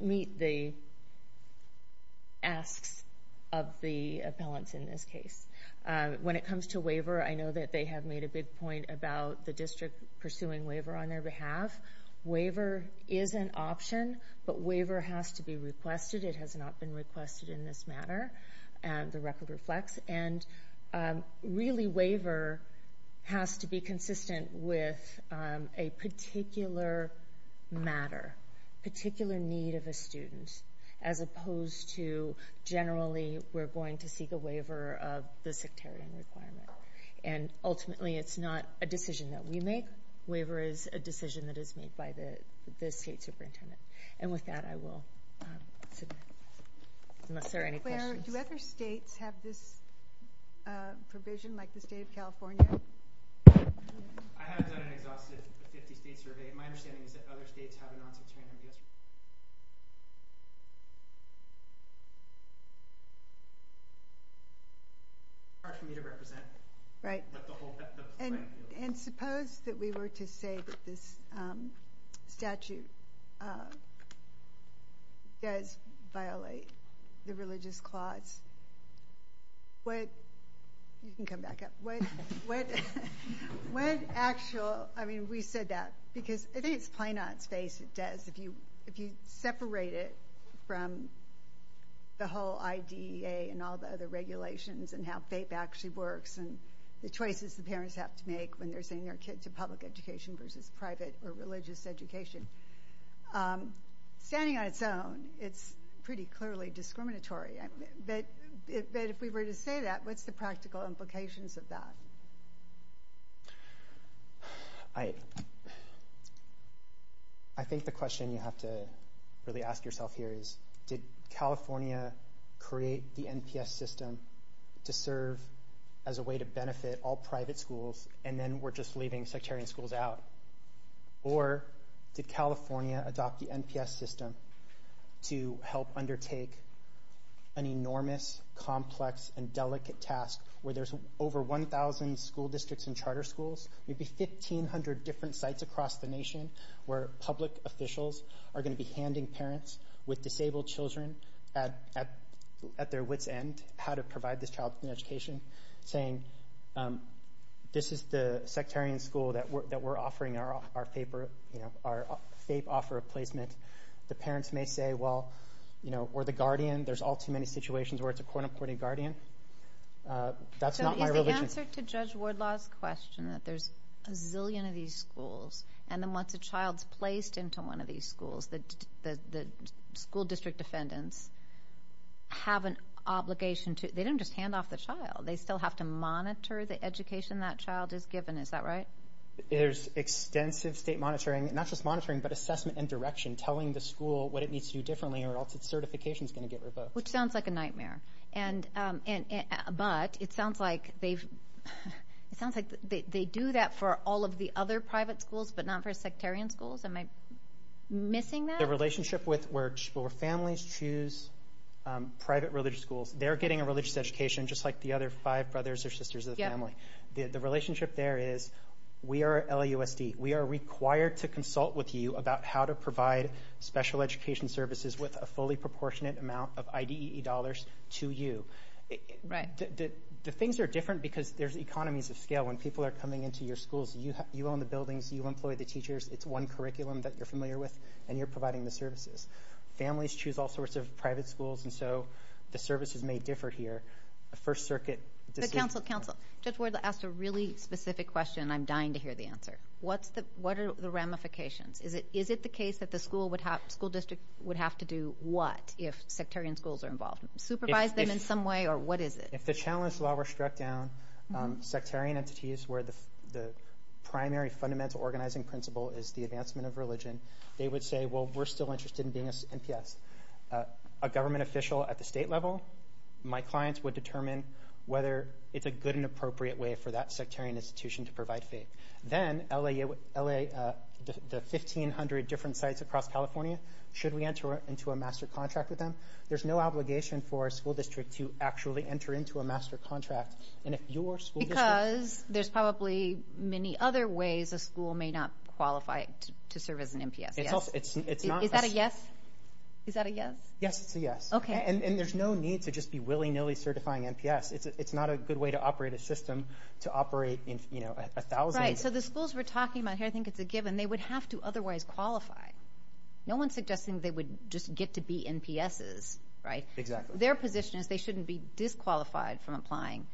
meet the asks of the appellants in this case. When it comes to waiver, I know that they have made a big point about the district pursuing waiver on their behalf. Waiver is an option, but waiver has to be requested. It has not been requested in this manner, and the record reflects. And really, waiver has to be consistent with a particular matter, particular need of a student, as opposed to generally we're going to seek a waiver of the sectarian requirement. And ultimately, it's not a decision that we make. Waiver is a decision that is made by the state superintendent. And with that, I will submit, unless there are any questions. Do other states have this provision, like the state of California? I haven't done an exhaustive 50-state survey. My understanding is that other states have an on-site training. It's hard for me to represent. Right. And suppose that we were to say that this statute does violate the religious clause. You can come back up. We said that because I think it's plain on its face it does. If you separate it from the whole IDEA and all the other regulations and how FAPE actually works and the choices the parents have to make when they're sending their kid to public education versus private or religious education, standing on its own, it's pretty clearly discriminatory. But if we were to say that, what's the practical implications of that? I think the question you have to really ask yourself here is, did California create the NPS system to serve as a way to benefit all private schools and then we're just leaving sectarian schools out? Or did California adopt the NPS system to help undertake an enormous, complex, and delicate task where there's over 1,000 school districts and charter schools, maybe 1,500 different sites across the nation where public officials are going to be handing parents with disabled children at their wit's end how to provide this child an education, saying this is the sectarian school that we're offering our FAPE offer of placement. The parents may say, well, or the guardian. There's all too many situations where it's a quote-unquote guardian. That's not my religion. So is the answer to Judge Wardlaw's question that there's a zillion of these schools and then once a child's placed into one of these schools, the school district defendants have an obligation to, they don't just hand off the child. They still have to monitor the education that child is given. Is that right? There's extensive state monitoring, not just monitoring, but assessment and direction, telling the school what it needs to do differently or else its certification is going to get revoked. Which sounds like a nightmare. But it sounds like they do that for all of the other private schools but not for sectarian schools. Am I missing that? The relationship where families choose private religious schools, they're getting a religious education just like the other five brothers or sisters of the family. The relationship there is we are LAUSD. We are required to consult with you about how to provide special education services with a fully proportionate amount of IDE dollars to you. Right. The things are different because there's economies of scale. When people are coming into your schools, you own the buildings, you employ the teachers. It's one curriculum that you're familiar with and you're providing the services. Families choose all sorts of private schools and so the services may differ here. A First Circuit decision. But counsel, counsel, Judge Wardlaw asked a really specific question and I'm dying to hear the answer. What are the ramifications? Is it the case that the school district would have to do what if sectarian schools are involved? Supervise them in some way or what is it? If the challenge law were struck down, sectarian entities where the primary fundamental organizing principle is the advancement of religion, they would say, well, we're still interested in being an NPS. A government official at the state level, my clients would determine whether it's a good and appropriate way for that sectarian institution to provide faith. Then the 1,500 different sites across California, should we enter into a master contract with them? There's no obligation for a school district to actually enter into a master contract. Because there's probably many other ways a school may not qualify to serve as an NPS. Is that a yes? Yes, it's a yes. And there's no need to just be willy-nilly certifying NPS. It's not a good way to operate a system to operate 1,000. Right, so the schools we're talking about here, I think it's a given, they would have to otherwise qualify. No one's suggesting they would just get to be NPSs, right? Exactly. Their position is they shouldn't be disqualified from applying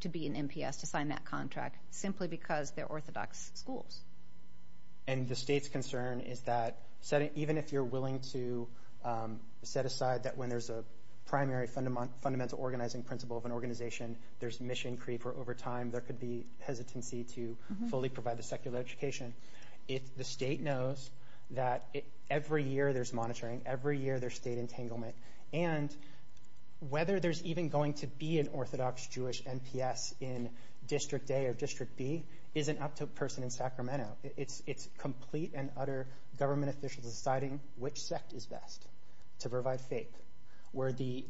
to be an NPS, to sign that contract, simply because they're orthodox schools. And the state's concern is that even if you're willing to set aside that when there's a primary fundamental organizing principle of an organization, there's mission creep, or over time there could be hesitancy to fully provide the secular education. If the state knows that every year there's monitoring, every year there's state entanglement, and whether there's even going to be an orthodox Jewish NPS in District A or District B isn't up to a person in Sacramento. It's complete and utter government officials deciding which sect is best to provide faith, where the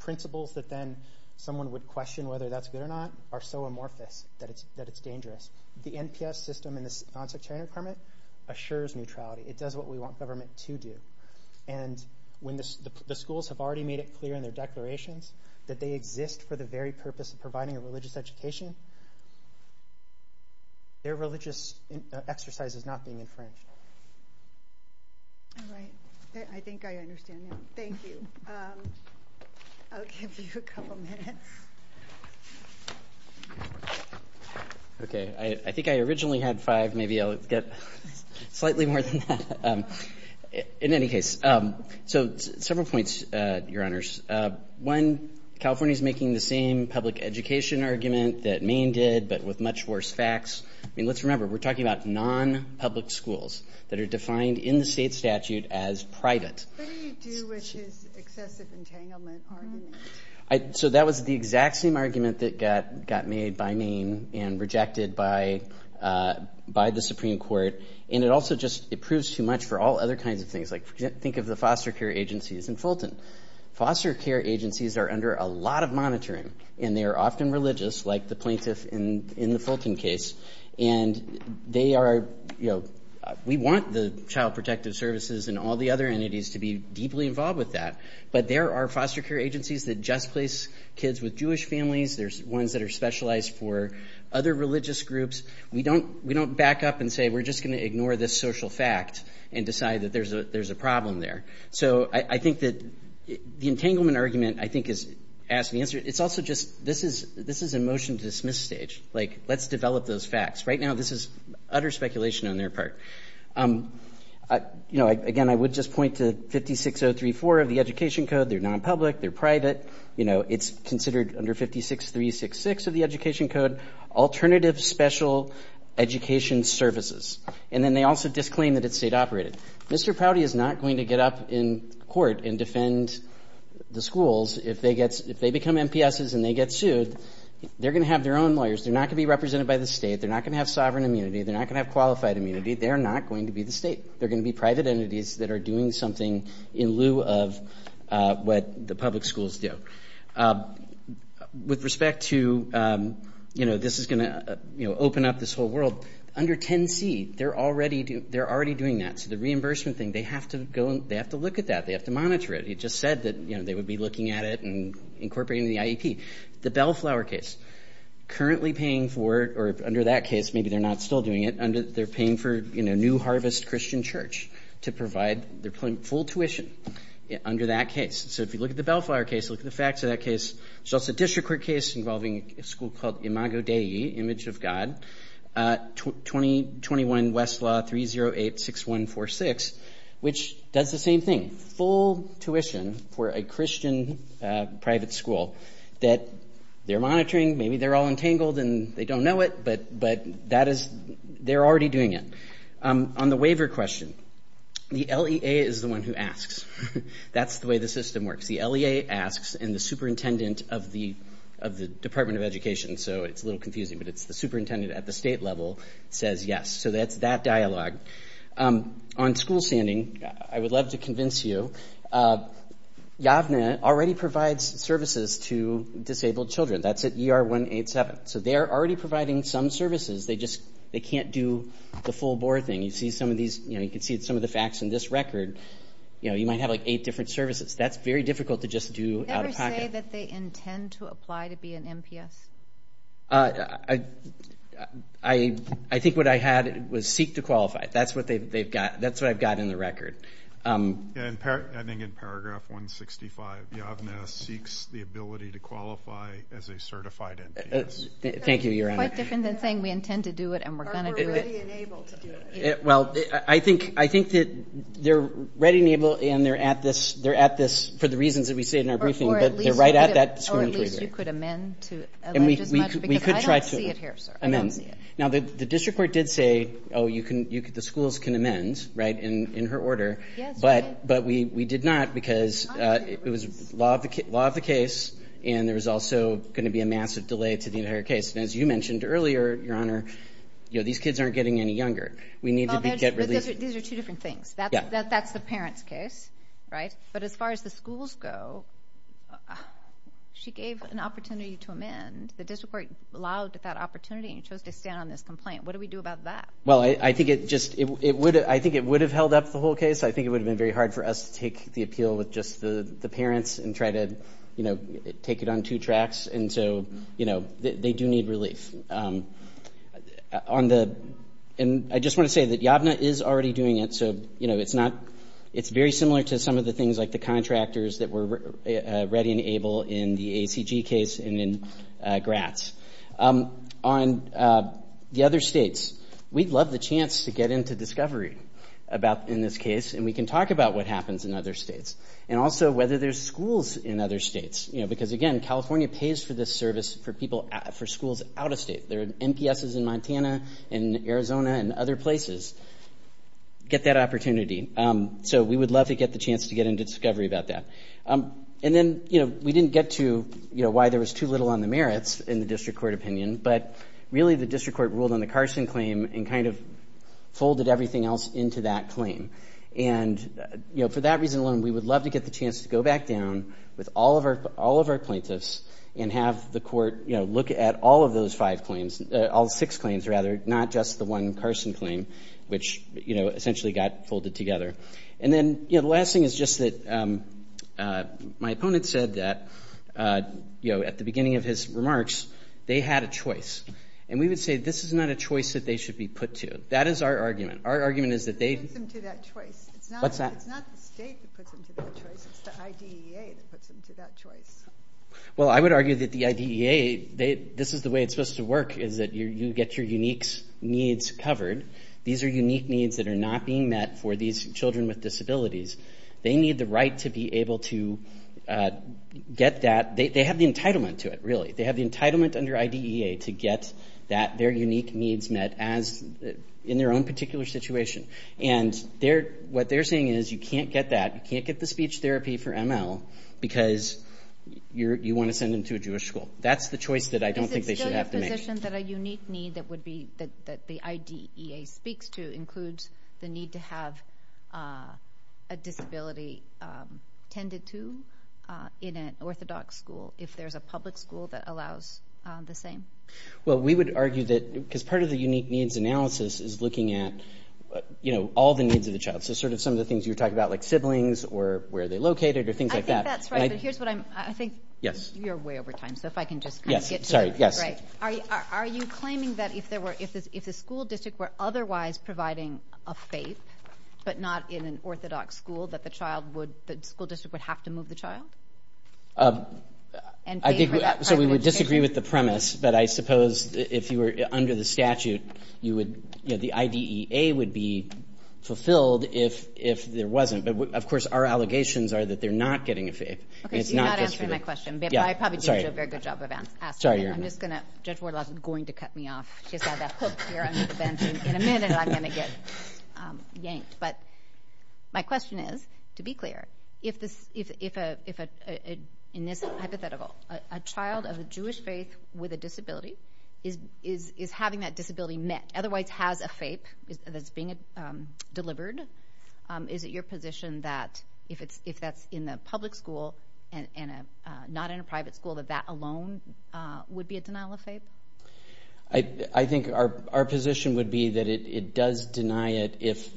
principles that then someone would question whether that's good or not are so amorphous that it's dangerous. The NPS system and the non-sectarian requirement assures neutrality. It does what we want government to do. And when the schools have already made it clear in their declarations that they exist for the very purpose of providing a religious education, their religious exercise is not being infringed. All right. I think I understand now. Thank you. I'll give you a couple minutes. Okay. I think I originally had five. Maybe I'll get slightly more than that. In any case, so several points, Your Honors. One, California is making the same public education argument that Maine did but with much worse facts. I mean, let's remember, we're talking about non-public schools that are defined in the state statute as private. What do you do with his excessive entanglement argument? So that was the exact same argument that got made by Maine and rejected by the Supreme Court. Think of the foster care agencies in Fulton. Foster care agencies are under a lot of monitoring, and they are often religious like the plaintiff in the Fulton case. And they are, you know, we want the Child Protective Services and all the other entities to be deeply involved with that. But there are foster care agencies that just place kids with Jewish families. There's ones that are specialized for other religious groups. We don't back up and say we're just going to ignore this social fact and decide that there's a problem there. So I think that the entanglement argument, I think, is asked and answered. It's also just this is a motion to dismiss stage. Like, let's develop those facts. Right now, this is utter speculation on their part. You know, again, I would just point to 56034 of the Education Code. They're non-public. They're private. You know, it's considered under 56366 of the Education Code, alternative special education services. And then they also disclaim that it's state-operated. Mr. Prouty is not going to get up in court and defend the schools if they become MPSs and they get sued. They're going to have their own lawyers. They're not going to be represented by the state. They're not going to have sovereign immunity. They're not going to have qualified immunity. They're not going to be the state. They're going to be private entities that are doing something in lieu of what the public schools do. With respect to, you know, this is going to open up this whole world, under 10C, they're already doing that. So the reimbursement thing, they have to look at that. They have to monitor it. It just said that, you know, they would be looking at it and incorporating it in the IEP. The Bellflower case, currently paying for it, or under that case, maybe they're not still doing it, they're paying for, you know, New Harvest Christian Church to provide their full tuition under that case. So if you look at the Bellflower case, look at the facts of that case. So it's a district court case involving a school called Imago Dei, Image of God, 2021 Westlaw 3086146, which does the same thing. Full tuition for a Christian private school that they're monitoring. Maybe they're all entangled and they don't know it, but they're already doing it. On the waiver question, the LEA is the one who asks. That's the way the system works. The LEA asks, and the superintendent of the Department of Education, so it's a little confusing, but it's the superintendent at the state level, says yes. So that's that dialogue. On school standing, I would love to convince you, YAVNA already provides services to disabled children. That's at ER 187. So they're already providing some services. They just can't do the full board thing. You see some of these, you know, you can see some of the facts in this record. You know, you might have, like, eight different services. That's very difficult to just do out of pocket. Is there a way that they intend to apply to be an MPS? I think what I had was seek to qualify. That's what I've got in the record. I think in Paragraph 165, YAVNA seeks the ability to qualify as a certified MPS. Thank you, Your Honor. It's quite different than saying we intend to do it and we're going to do it. Or we're ready and able to do it. Well, I think that they're ready and able and they're at this for the reasons that we say in our briefing. Or at least you could amend to it. I don't see it here, sir. I don't see it. Now, the district court did say, oh, the schools can amend, right, in her order. But we did not because it was law of the case and there was also going to be a massive delay to the entire case. And as you mentioned earlier, Your Honor, you know, these kids aren't getting any younger. These are two different things. That's the parent's case, right? But as far as the schools go, she gave an opportunity to amend. The district court allowed that opportunity and chose to stand on this complaint. What do we do about that? Well, I think it just would have held up the whole case. I think it would have been very hard for us to take the appeal with just the parents and try to, you know, take it on two tracks. And so, you know, they do need relief. On the end, I just want to say that YAVNA is already doing it. So, you know, it's very similar to some of the things like the contractors that were ready and able in the ACG case and in Gratz. On the other states, we'd love the chance to get into discovery in this case and we can talk about what happens in other states and also whether there's schools in other states, you know, because, again, California pays for this service for schools out of state. There are MPSs in Montana and Arizona and other places. Get that opportunity. So we would love to get the chance to get into discovery about that. And then, you know, we didn't get to, you know, why there was too little on the merits in the district court opinion, but really the district court ruled on the Carson claim and kind of folded everything else into that claim. And, you know, for that reason alone, we would love to get the chance to go back down with all of our plaintiffs and have the court, you know, look at all of those five claims, all six claims rather, not just the one Carson claim, which, you know, essentially got folded together. And then, you know, the last thing is just that my opponent said that, you know, at the beginning of his remarks, they had a choice. And we would say this is not a choice that they should be put to. That is our argument. Our argument is that they... It puts them to that choice. What's that? It's not the state that puts them to that choice. It's the IDEA that puts them to that choice. Well, I would argue that the IDEA, this is the way it's supposed to work, is that you get your unique needs covered. These are unique needs that are not being met for these children with disabilities. They need the right to be able to get that. They have the entitlement to it, really. They have the entitlement under IDEA to get their unique needs met in their own particular situation. And what they're saying is you can't get that. You can't get the speech therapy for ML because you want to send them to a Jewish school. That's the choice that I don't think they should have to make. So the definition that a unique need that the IDEA speaks to includes the need to have a disability tended to in an orthodox school if there's a public school that allows the same? Well, we would argue that because part of the unique needs analysis is looking at all the needs of the child, so sort of some of the things you were talking about like siblings or where they're located or things like that. I think that's right, but here's what I'm... I think you're way over time, so if I can just kind of get to the... Are you claiming that if the school district were otherwise providing a FAPE but not in an orthodox school, that the school district would have to move the child? So we would disagree with the premise, but I suppose if you were under the statute, the IDEA would be fulfilled if there wasn't. But, of course, our allegations are that they're not getting a FAPE. Okay, so you're not answering my question, but I probably did a very good job of asking. I'm just going to... Judge Wardlaw's going to cut me off. She's got that hook here under the bench, and in a minute I'm going to get yanked. But my question is, to be clear, if in this hypothetical a child of a Jewish faith with a disability is having that disability met, otherwise has a FAPE that's being delivered, is it your position that if that's in the public school and not in a private school, that that alone would be a denial of FAPE? I think our position would be that it does deny it if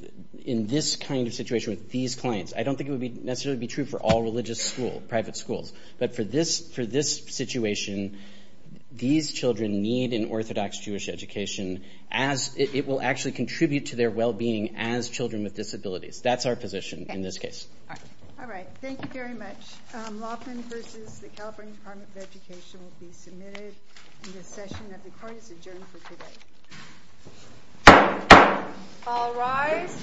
in this kind of situation with these clients. I don't think it would necessarily be true for all religious schools, private schools, but for this situation, these children need an orthodox Jewish education as it will actually contribute to their well-being as children with disabilities. That's our position in this case. All right. Thank you very much. Laughlin v. The California Department of Education will be submitted in this session. The court is adjourned for today. All rise.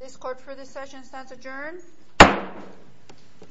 This court for this session stands adjourned.